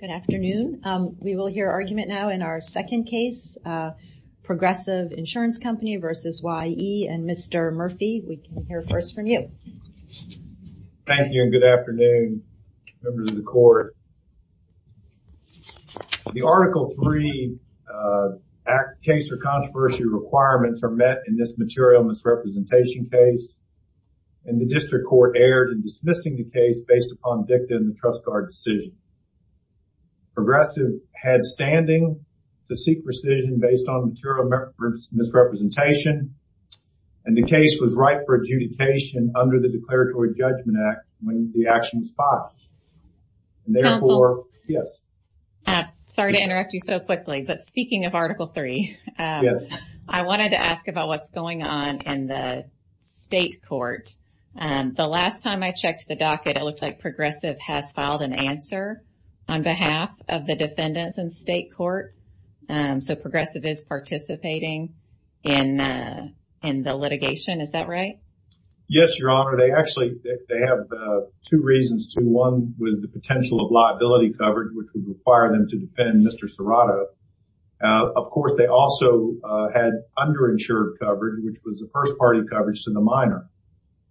Good afternoon. We will hear argument now in our second case, Progressive Insurance Company versus Y.E. and Mr. Murphy. We can hear first from you. Thank you and good afternoon members of the court. The article 3 case for controversy requirements are met in this material misrepresentation case and the district court erred in dismissing the case based upon dicta in the trust guard decision. Progressive had standing to seek rescission based on material misrepresentation and the case was right for adjudication under the Declaratory Judgment Act when the action was filed. Therefore, yes. Sorry to interrupt you so quickly, but speaking of Article 3, I wanted to ask about what's going on in the state court. The last time I checked the docket, it didn't answer on behalf of the defendants in the state court. So, Progressive is participating in the litigation. Is that right? Yes, Your Honor. They actually have two reasons to. One was the potential of liability coverage, which would require them to defend Mr. Serrato. Of course, they also had underinsured coverage, which was the first party coverage to the minor.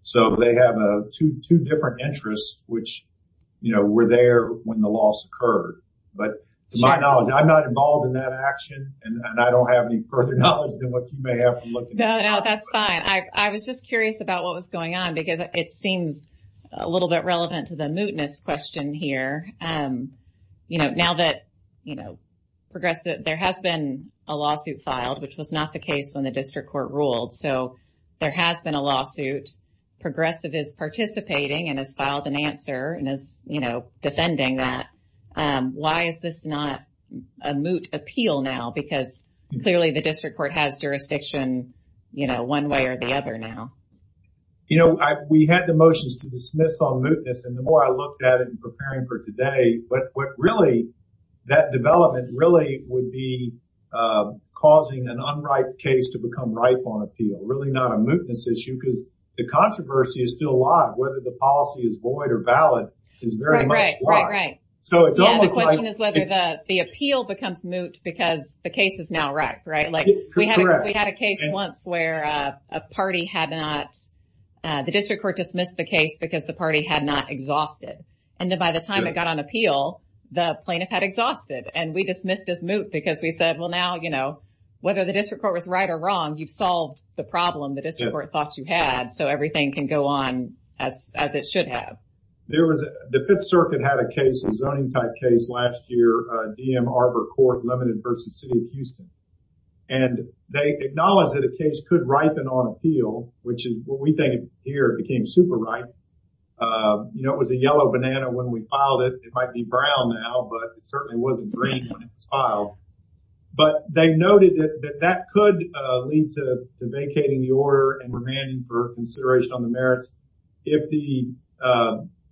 So, they have a two different interests, which were there when the loss occurred. But to my knowledge, I'm not involved in that action and I don't have any further knowledge than what you may have. No, that's fine. I was just curious about what was going on because it seems a little bit relevant to the mootness question here. Now that Progressive, there has been a lawsuit filed, which was not the case when the district court ruled. So, there has been a lawsuit. Progressive is participating and has filed an answer and is defending that. Why is this not a moot appeal now? Because clearly the district court has jurisdiction one way or the other now. We had the motions to dismiss on mootness and the more I looked at it in preparing for today, what really, that development really would be causing an issue because the controversy is still alive. Whether the policy is void or valid is very much alive. Right, right, right. The question is whether the appeal becomes moot because the case is now wrecked, right? We had a case once where a party had not, the district court dismissed the case because the party had not exhausted. And then by the time it got on appeal, the plaintiff had exhausted and we dismissed as moot because we said, well now, you know, whether the district court was right or wrong, you've solved the problem the district court thought you had. So, everything can go on as it should have. There was, the Fifth Circuit had a case, a zoning type case, last year. DM Arbor Court Limited versus City of Houston. And they acknowledged that a case could ripen on appeal, which is what we think here became super ripe. You know, it was a yellow banana when we filed it. It might be brown now, but it certainly wasn't green when it was filed. But they noted that that could lead to vacating the order and remanding for consideration on the merits if the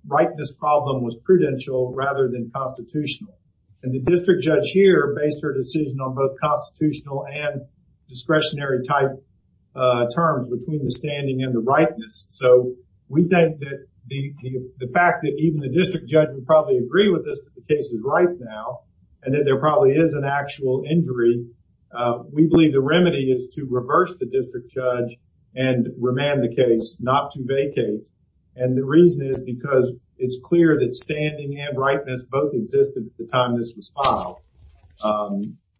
ripeness problem was prudential rather than constitutional. And the district judge here based her decision on both constitutional and discretionary type terms between the standing and the ripeness. So, we think that the fact that even the district judge would probably agree with us that the case is ripe now, and that there probably is an actual injury, we believe the remedy is to reverse the district judge and remand the case, not to vacate. And the reason is because it's clear that standing and ripeness both existed at the time this was filed.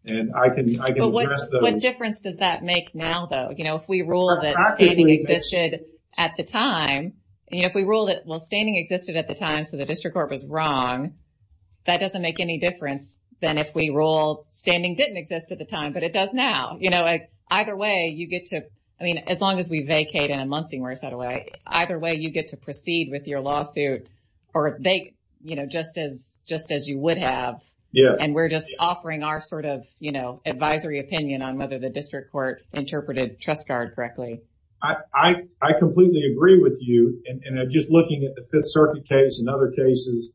And I can, I can address those. What difference does that make now, though? You know, if we rule that standing existed at the time, you know, if we rule that, well, standing existed at the time, so the district court was wrong, that doesn't make any difference than if we rule standing didn't exist at the time, but it does now. You know, either way, you get to, I mean, as long as we vacate in a Muncie where it's out of way, either way, you get to proceed with your lawsuit, or they, you know, just as just as you would have. Yeah. And we're just offering our sort of, you know, advisory opinion on whether the district court interpreted TrustGuard correctly. I completely agree with you. And just looking at the Fifth Circuit case and other cases,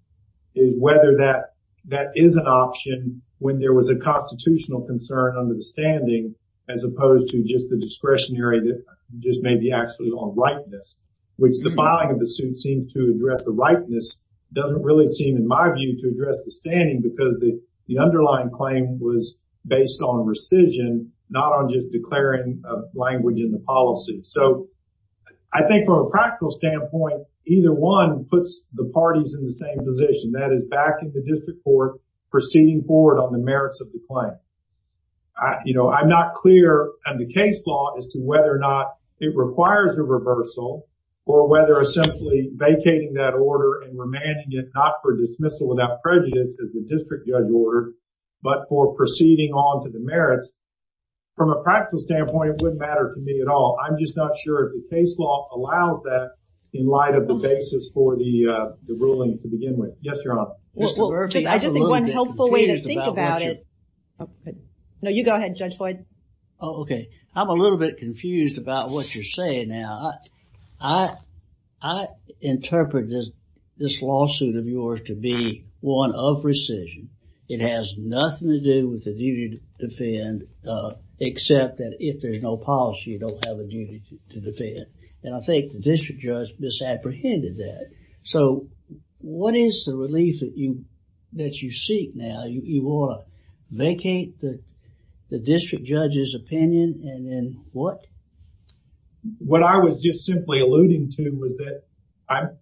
is whether that that is an option when there was a constitutional concern under the standing, as opposed to just the discretionary that just may be actually on ripeness, which the filing of the suit seems to address the ripeness doesn't really seem in my view to address the standing because the the underlying claim was based on rescission, not on just declaring language in the policy. So I think from a practical standpoint, either one puts the parties in the same position that is backing the district court proceeding forward on the merits of the claim. You know, I'm not clear on the case law as to whether or not it requires a reversal, or whether or simply vacating that order and remanding it not for dismissal without prejudice as the district judge ordered, but for proceeding on to the merits. From a practical standpoint, it wouldn't matter to me at all. I'm just not sure if the case law allows that in light of the basis for the ruling to begin with. Yes, Your Honor. Well, I just think one helpful way to think about it. No, you go ahead, Judge Floyd. Okay, I'm a little bit confused about what you're saying now. I, I interpret this, this lawsuit of yours to be one of rescission. It has nothing to do with duty to defend except that if there's no policy, you don't have a duty to defend. And I think the district judge misapprehended that. So, what is the relief that you, that you seek now? You, you want to vacate the, the district judge's opinion and then what? What I was just simply alluding to was that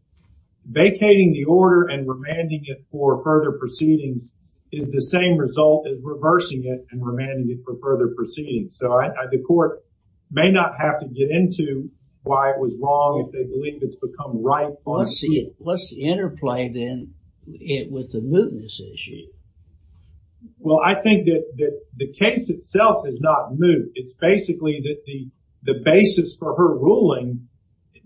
vacating the order and remanding it for further proceedings is the same result as reversing it and remanding it for further proceedings. So, I, I, the court may not have to get into why it was wrong if they believe it's become right. Let's see it. Let's interplay then it with the mootness issue. Well, I think that the case itself is not moot. It's basically that the, the basis for her ruling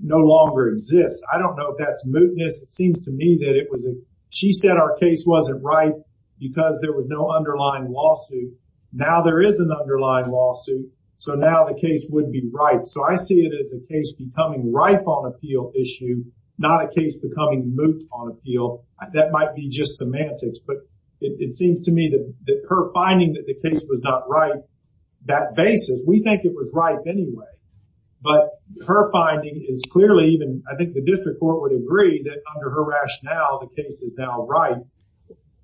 no longer exists. I don't know if that's mootness. It seems to me that it was a, she said our case wasn't right because there was no underlying lawsuit. Now, there is an underlying lawsuit. So, now the case would be right. So, I see it as a case becoming right on appeal issue, not a case becoming moot on appeal. That might be just semantics, but it, it seems to me that, that her finding that the case was not right, that basis, we think it was right anyway. But her finding is clearly even, I think the district court agreed that under her rationale, the case is now right.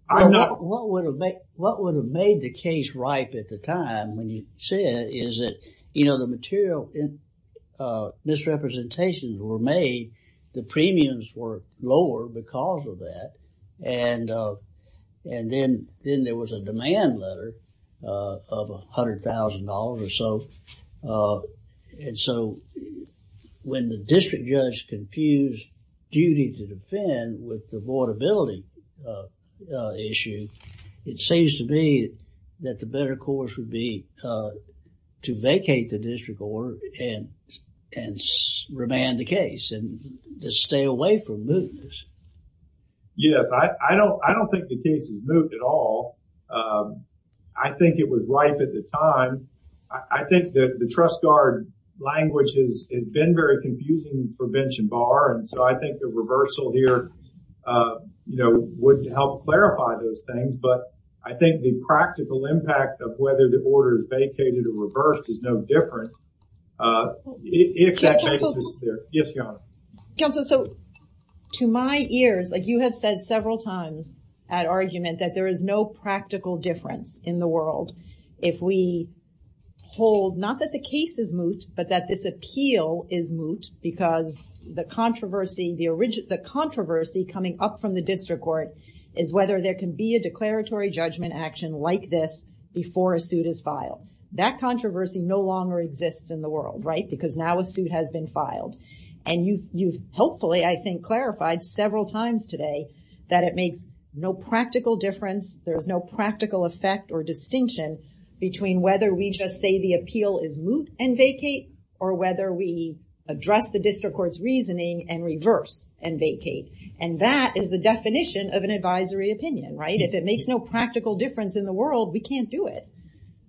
What would have made, what would have made the case ripe at the time when you said is that, you know, the material misrepresentations were made, the premiums were lower because of that. And, and then, then there was a demand letter of $100,000 or so. And so, when the district judge confused duty to defend with the vulnerability issue, it seems to me that the better course would be to vacate the district court and, and remand the case and just stay away from mootness. Yes. I, I don't, I don't think the case is moot at all. I think it was ripe at the time. I, I think that the trust guard language has, has been very confusing for bench and bar. And so, I think the reversal here, you know, wouldn't help clarify those things. But I think the practical impact of whether the order is vacated or reversed is no different. If that makes this clear. Yes, Your Honor. Counsel, so, to my ears, like you have said several times at argument that there is no practical difference in the world if we hold, not that the case is moot, because the controversy, the origin, the controversy coming up from the district court is whether there can be a declaratory judgment action like this before a suit is filed. That controversy no longer exists in the world, right? Because now a suit has been filed. And you, you've hopefully, I think, clarified several times today that it makes no practical difference. There's no practical effect or distinction between whether we just say the appeal is moot and vacate or whether we address the district court's reasoning and reverse and vacate. And that is the definition of an advisory opinion, right? If it makes no practical difference in the world, we can't do it.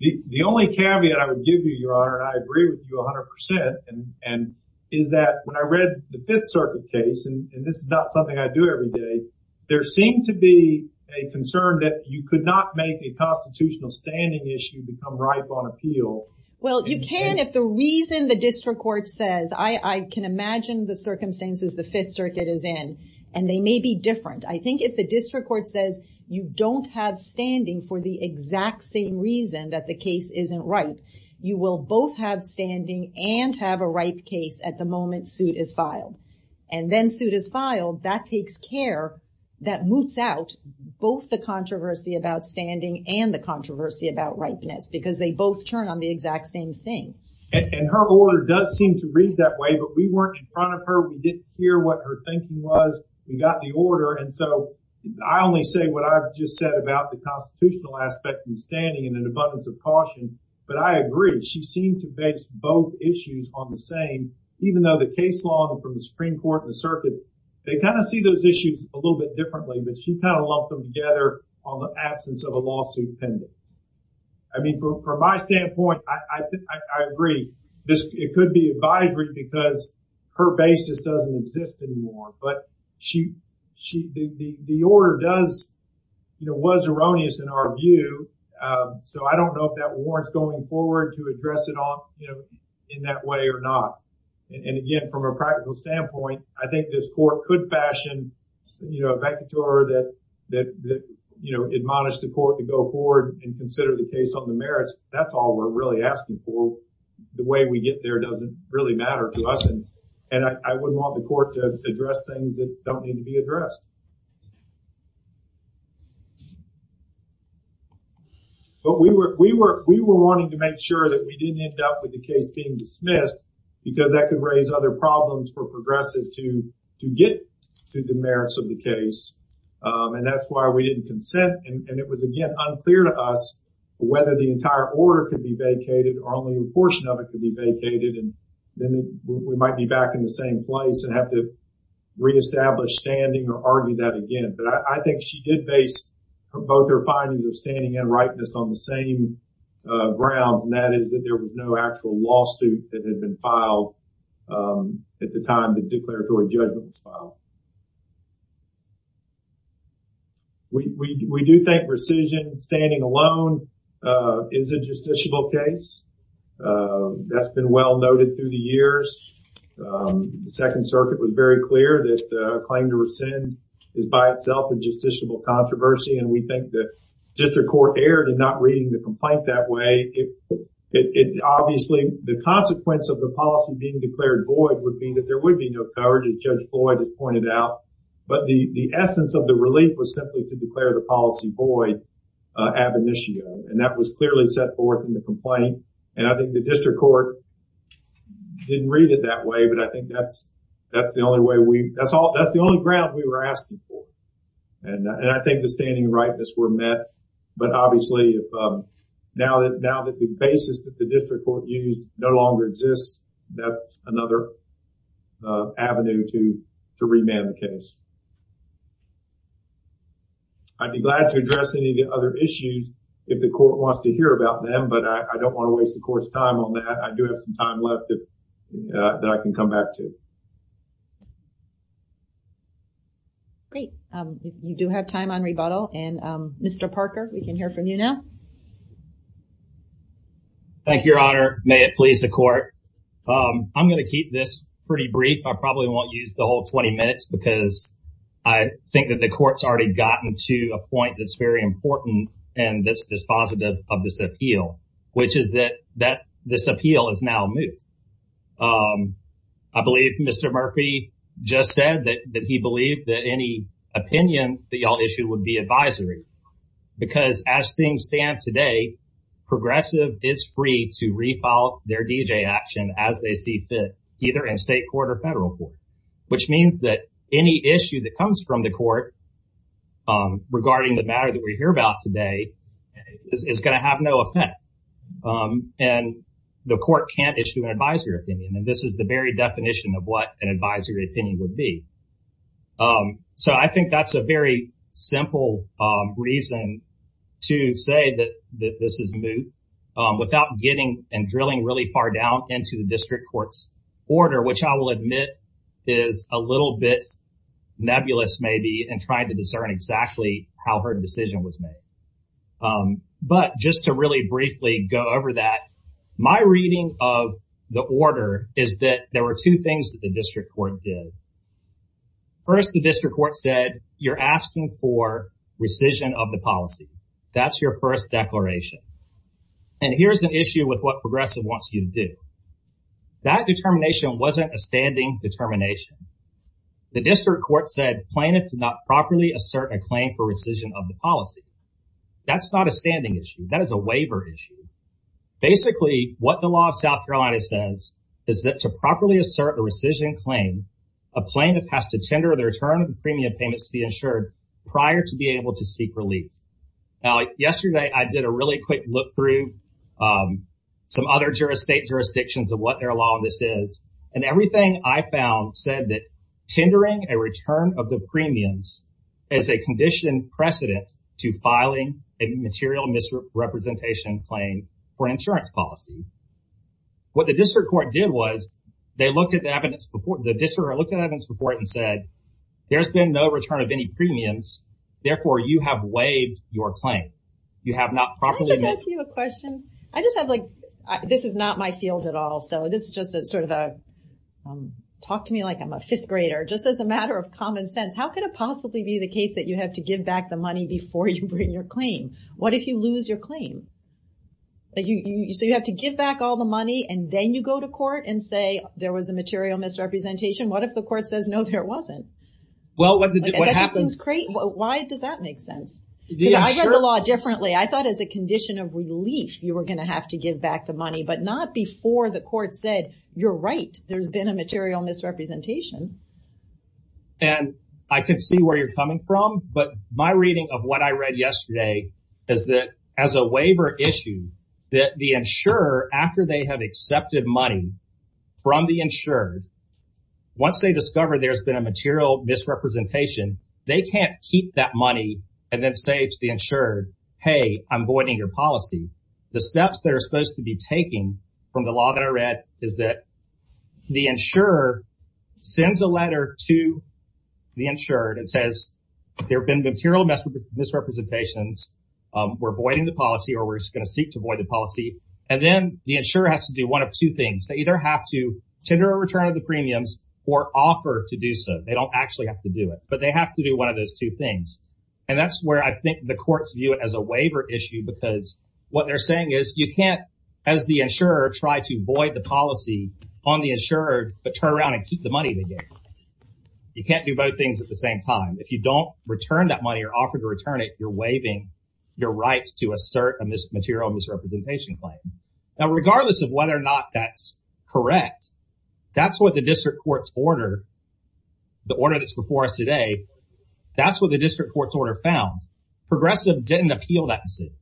The only caveat I would give you, Your Honor, and I agree with you 100%, and is that when I read the Fifth Circuit case, and this is not something I do every day, there seemed to be a concern that you could not make a constitutional standing issue become ripe on appeal. Well, you can if the reason the district court says, I can imagine the circumstances the Fifth Circuit is in, and they may be different. I think if the district court says you don't have standing for the exact same reason that the case isn't ripe, you will both have standing and have a ripe case at the moment suit is filed. And then suit is filed, that takes care, that moots out both the controversy about standing and the controversy about ripeness, because they both turn on the exact same thing. And her order does seem to read that way, but we weren't in front of her. We didn't hear what her thinking was. We got the order. And so I only say what I've just said about the constitutional aspect of standing and an abundance of caution. But I agree. She seemed to base both issues on the same, even though the case law from the Supreme Court and the circuit, they kind of see those issues a little bit differently, but she kind of lumped them together on the standpoint. I agree. It could be advisory because her basis doesn't exist anymore. But the order was erroneous in our view. So I don't know if that warrants going forward to address it in that way or not. And again, from a practical standpoint, I think this court could fashion a vacatur that you know, admonish the court to go forward and consider the case on the merits. That's all we're really asking for. The way we get there doesn't really matter to us. And I wouldn't want the court to address things that don't need to be addressed. But we were we were we were wanting to make sure that we didn't end up with the case being dismissed because that could raise other problems for And it was, again, unclear to us whether the entire order could be vacated or only a portion of it could be vacated. And then we might be back in the same place and have to reestablish standing or argue that again. But I think she did base both her findings of standing and rightness on the same grounds, and that is that there was no actual lawsuit that had been filed at the time the declaratory judgment was filed. We do think rescission, standing alone, is a justiciable case. That's been well noted through the years. The Second Circuit was very clear that a claim to rescind is by itself a justiciable controversy. And we think the district court erred in not reading the complaint that way. Obviously, the consequence of the policy being declared void would be that there would be no coverage, as Judge Floyd has pointed out. But the void ab initio, and that was clearly set forth in the complaint. And I think the district court didn't read it that way, but I think that's the only way we, that's the only ground we were asking for. And I think the standing and rightness were met. But obviously, now that the basis that the district court used no longer exists, that's another avenue to remand the case. I'd be glad to address any of the other issues if the court wants to hear about them, but I don't want to waste the court's time on that. I do have some time left that I can come back to. Great. You do have time on rebuttal. And Mr. Parker, we can hear from you now. Thank you, Your Honor. May it please the court. I'm going to keep this pretty brief. I probably won't use the whole 20 minutes because I think that the court's already gotten to a point that's very important and that's dispositive of this appeal, which is that this appeal is now moved. I believe Mr. Murphy just said that he believed that any opinion that y'all issued would be advisory. Because as things stand today, progressive is free to refile their D.J. action as they see fit, either in state court or federal court, which means that any issue that comes from the court regarding the matter that we hear about today is going to have no effect. And the court can't issue an advisory opinion. And this is the very definition of what an advisory opinion would be. So I think that's a very simple reason to say that this is moved without getting and drilling really far down into the is a little bit nebulous, maybe, in trying to discern exactly how her decision was made. But just to really briefly go over that, my reading of the order is that there were two things that the district court did. First, the district court said, you're asking for rescission of the policy. That's your first declaration. And here's an issue with what progressive wants you to do. That determination wasn't a standing determination. The district court said plaintiff did not properly assert a claim for rescission of the policy. That's not a standing issue. That is a waiver issue. Basically, what the law of South Carolina says is that to properly assert a rescission claim, a plaintiff has to tender the return of the premium payments to be insured prior to be able to seek relief. Now, yesterday, I did a really quick look through some other state jurisdictions of what their law of this is. And everything I found said that tendering a return of the premiums is a condition precedent to filing a material misrepresentation claim for insurance policy. What the district court did was they looked at the evidence before the district looked at evidence before it and said, there's been no return of any premiums. Therefore, you have waived your claim. You have not properly. Can I just ask you a question? This is not my field at all. Talk to me like I'm a fifth grader. Just as a matter of common sense, how could it possibly be the case that you have to give back the money before you bring your claim? What if you lose your claim? You have to give back all the money and then you go to court and say there was a material misrepresentation. What if the court says, no, there wasn't? Why does that make sense? I read the law differently. I thought as a condition of relief, you were going to have to give back the money, but not before the court said, you're right. There's been a material misrepresentation. And I can see where you're coming from. But my reading of what I read yesterday is that as a waiver issue that the insurer, after they have accepted money from the insured, once they discover there's been a material misrepresentation, they can't keep that money and then say to the court, hey, I'm voiding your policy. The steps they're supposed to be taking from the law that I read is that the insurer sends a letter to the insured and says there have been material misrepresentations. We're voiding the policy or we're going to seek to void the policy. And then the insurer has to do one of two things. They either have to tender a return of the premiums or offer to do so. They don't actually have to do it, but they have to do one of those two things. And that's where I think the courts view it as a waiver issue, because what they're saying is you can't, as the insurer, try to void the policy on the insured, but turn around and keep the money they gave. You can't do both things at the same time. If you don't return that money or offer to return it, you're waiving your right to assert a material misrepresentation claim. Now, regardless of whether or not that's correct, that's what the district court's order found. Progressive didn't appeal that decision.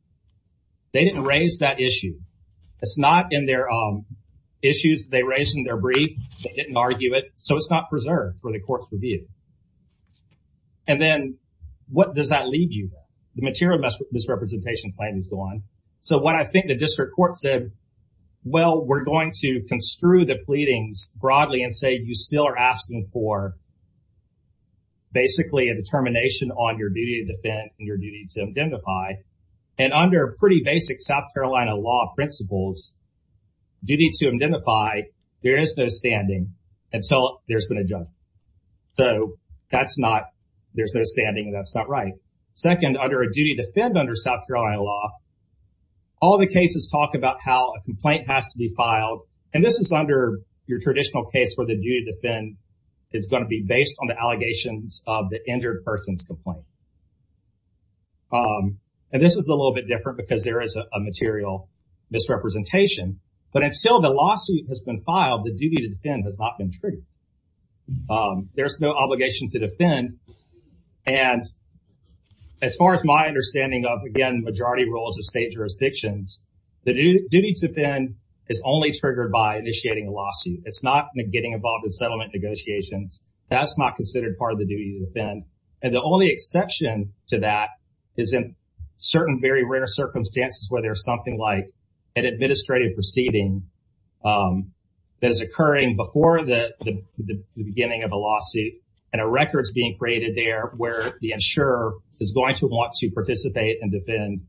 They didn't raise that issue. It's not in their issues they raised in their brief. They didn't argue it. So it's not preserved for the court's review. And then what does that leave you with? The material misrepresentation claim is gone. So what I think the district court said, well, we're going to construe the pleadings broadly and say you still are asking for basically a termination on your duty to defend and your duty to indemnify. And under pretty basic South Carolina law principles, duty to indemnify, there is no standing until there's been a judgment. So that's not, there's no standing and that's not right. Second, under a duty to defend under South Carolina law, all the cases talk about how a complaint has to be filed. And this is under your traditional case where the duty to defend is going to be based on the person's complaint. And this is a little bit different because there is a material misrepresentation. But if still the lawsuit has been filed, the duty to defend has not been treated. There's no obligation to defend. And as far as my understanding of, again, majority rules of state jurisdictions, the duty to defend is only triggered by initiating a lawsuit. It's not getting involved in the case. And the only exception to that is in certain very rare circumstances where there's something like an administrative proceeding that is occurring before the beginning of a lawsuit and a record is being created there where the insurer is going to want to participate and defend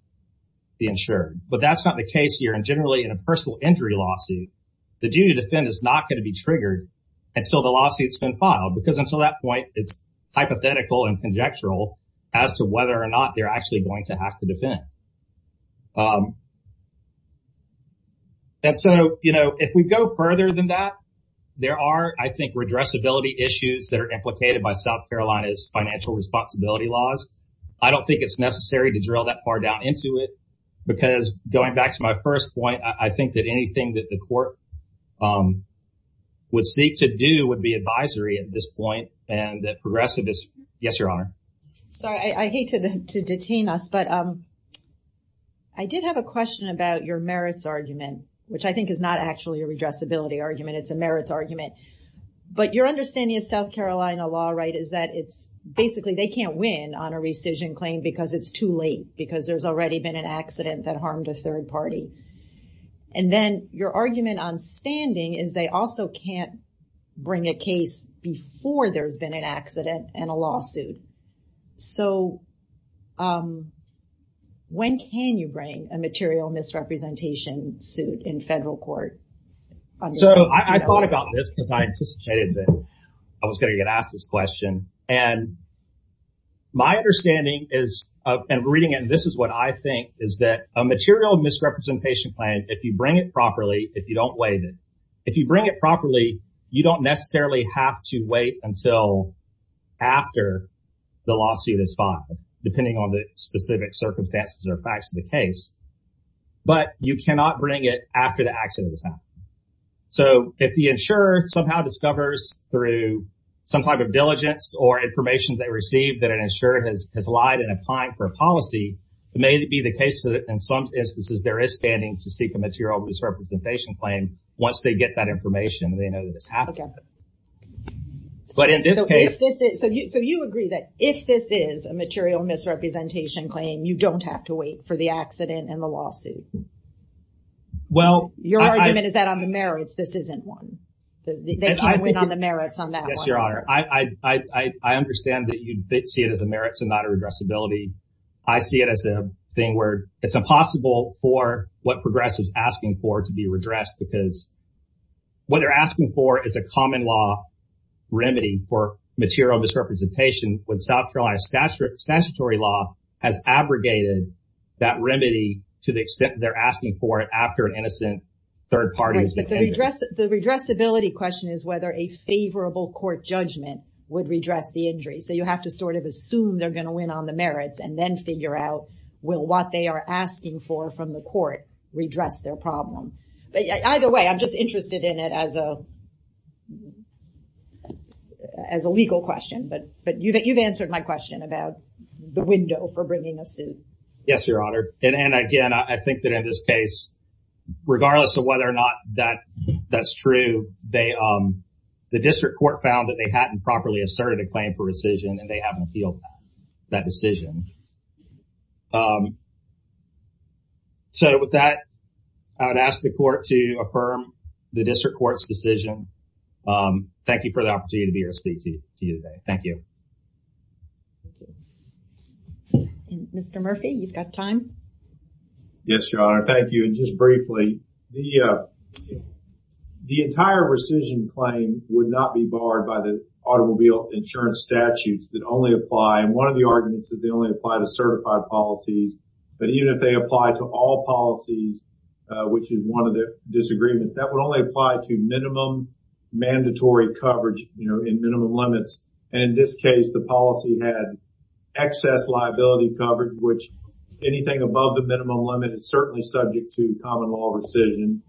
the insured. But that's not the case here. And generally, in a personal injury lawsuit, the duty to defend is not going to be triggered until the lawsuit's been filed. Because until that point, it's hypothetical and conjectural as to whether or not they're actually going to have to defend. And so, you know, if we go further than that, there are, I think, redressability issues that are implicated by South Carolina's financial responsibility laws. I don't think it's necessary to drill that far down into it because going back to my first point, I think that anything that the court would seek to do would be advisory at this point. And that progressive is, yes, Your Honor. Sorry, I hate to detain us, but I did have a question about your merits argument, which I think is not actually a redressability argument. It's a merits argument. But your understanding of South Carolina law, right, is that it's basically they can't win on a rescission claim because it's too late, because there's already been an accident that harmed a third party. And then your bring a case before there's been an accident and a lawsuit. So when can you bring a material misrepresentation suit in federal court? So I thought about this because I anticipated that I was going to get asked this question. And my understanding is, and reading it, and this is what I think, is that a material misrepresentation plan, if you bring it properly, if you don't necessarily have to wait until after the lawsuit is filed, depending on the specific circumstances or facts of the case, but you cannot bring it after the accident has happened. So if the insurer somehow discovers through some type of diligence or information they received that an insurer has lied in applying for a policy, it may be the case that in some instances there is standing to seek a information and they know that it's happened. But in this case... So you agree that if this is a material misrepresentation claim, you don't have to wait for the accident and the lawsuit? Well... Your argument is that on the merits, this isn't one. They can't win on the merits on that one. Yes, Your Honor. I understand that you see it as a merits and not a redressability. I see it as a thing where it's impossible for what progressives asking for to be redressed because what they're asking for is a common law remedy for material misrepresentation when South Carolina statutory law has abrogated that remedy to the extent they're asking for it after an innocent third party has been injured. Right, but the redressability question is whether a favorable court judgment would redress the injury. So you have to sort of assume they're going to win on the merits and then figure out, will what they are asking for from the court redress their problem? Either way, I'm just interested in it as a legal question, but you've answered my question about the window for bringing a suit. Yes, Your Honor. And again, I think that in this case, regardless of whether or not that's true, the district court found that they hadn't properly asserted a claim for rescission and they haven't appealed that decision. So with that, I would ask the court to affirm the district court's decision. Thank you for the opportunity to be here to speak to you today. Thank you. Mr. Murphy, you've got time. Yes, Your Honor. Thank you. And just briefly, the entire rescission claim would not be barred by the automobile insurance statutes that only apply. And one of the certified policies, but even if they apply to all policies, which is one of the disagreements, that would only apply to minimum mandatory coverage in minimum limits. And in this case, the policy had excess liability coverage, which anything above the minimum limit is certainly subject to common law rescission,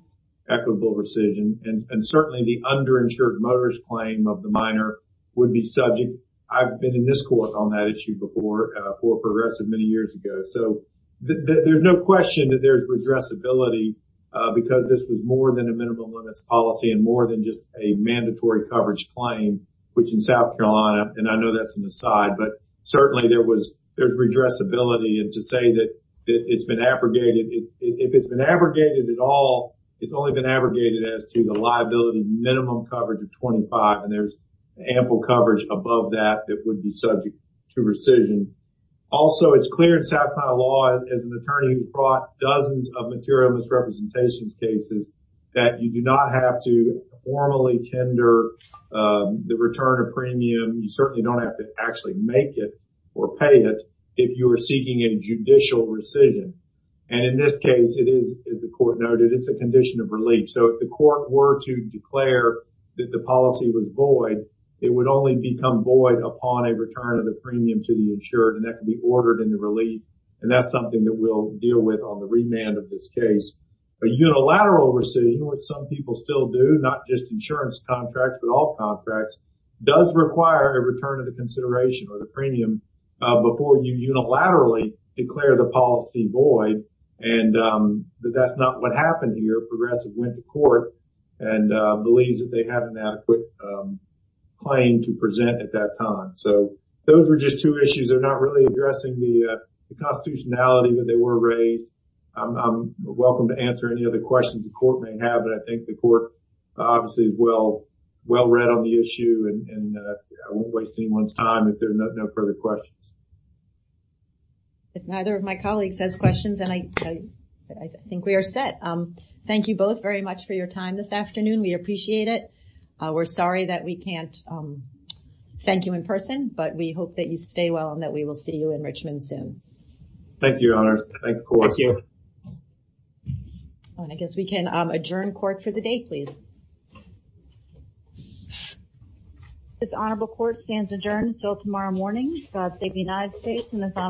equitable rescission. And certainly the underinsured motorist claim of the minor would be on that issue before for progressive many years ago. So there's no question that there's redressability because this was more than a minimum limits policy and more than just a mandatory coverage claim, which in South Carolina, and I know that's an aside, but certainly there was there's redressability. And to say that it's been abrogated, if it's been abrogated at all, it's only been abrogated as to the liability minimum coverage of 25. And there's ample coverage above that that would be subject to rescission. Also, it's clear in South Carolina law, as an attorney who brought dozens of material misrepresentations cases, that you do not have to formally tender the return of premium. You certainly don't have to actually make it or pay it if you are seeking a judicial rescission. And in this case, it is, as the court noted, it's a condition of relief. So if the court were to declare that the policy was void, it would only become void upon a return of the premium to the insured and that can be ordered in the relief. And that's something that we'll deal with on the remand of this case. A unilateral rescission, which some people still do, not just insurance contracts, but all contracts does require a return of the consideration or the premium before you unilaterally declare the policy void. And that's not what happened here. Progressive went to court and believes that they have an adequate claim to present at that time. So those were just two issues. They're not really addressing the constitutionality that they were raised. I'm welcome to answer any other questions the court may have, but I think the court obviously well read on the issue and I won't waste anyone's time if there are no further questions. If neither of my colleagues has questions, then I think we are set. Thank you both very much for your time this afternoon. We appreciate it. We're sorry that we can't thank you in person, but we hope that you stay well and that we will see you in Richmond soon. Thank you, Your Honor. Thank you. And I guess we can adjourn court for the day, please. This Honorable Court stands adjourned until tomorrow morning. God save the United States and this Honorable Court.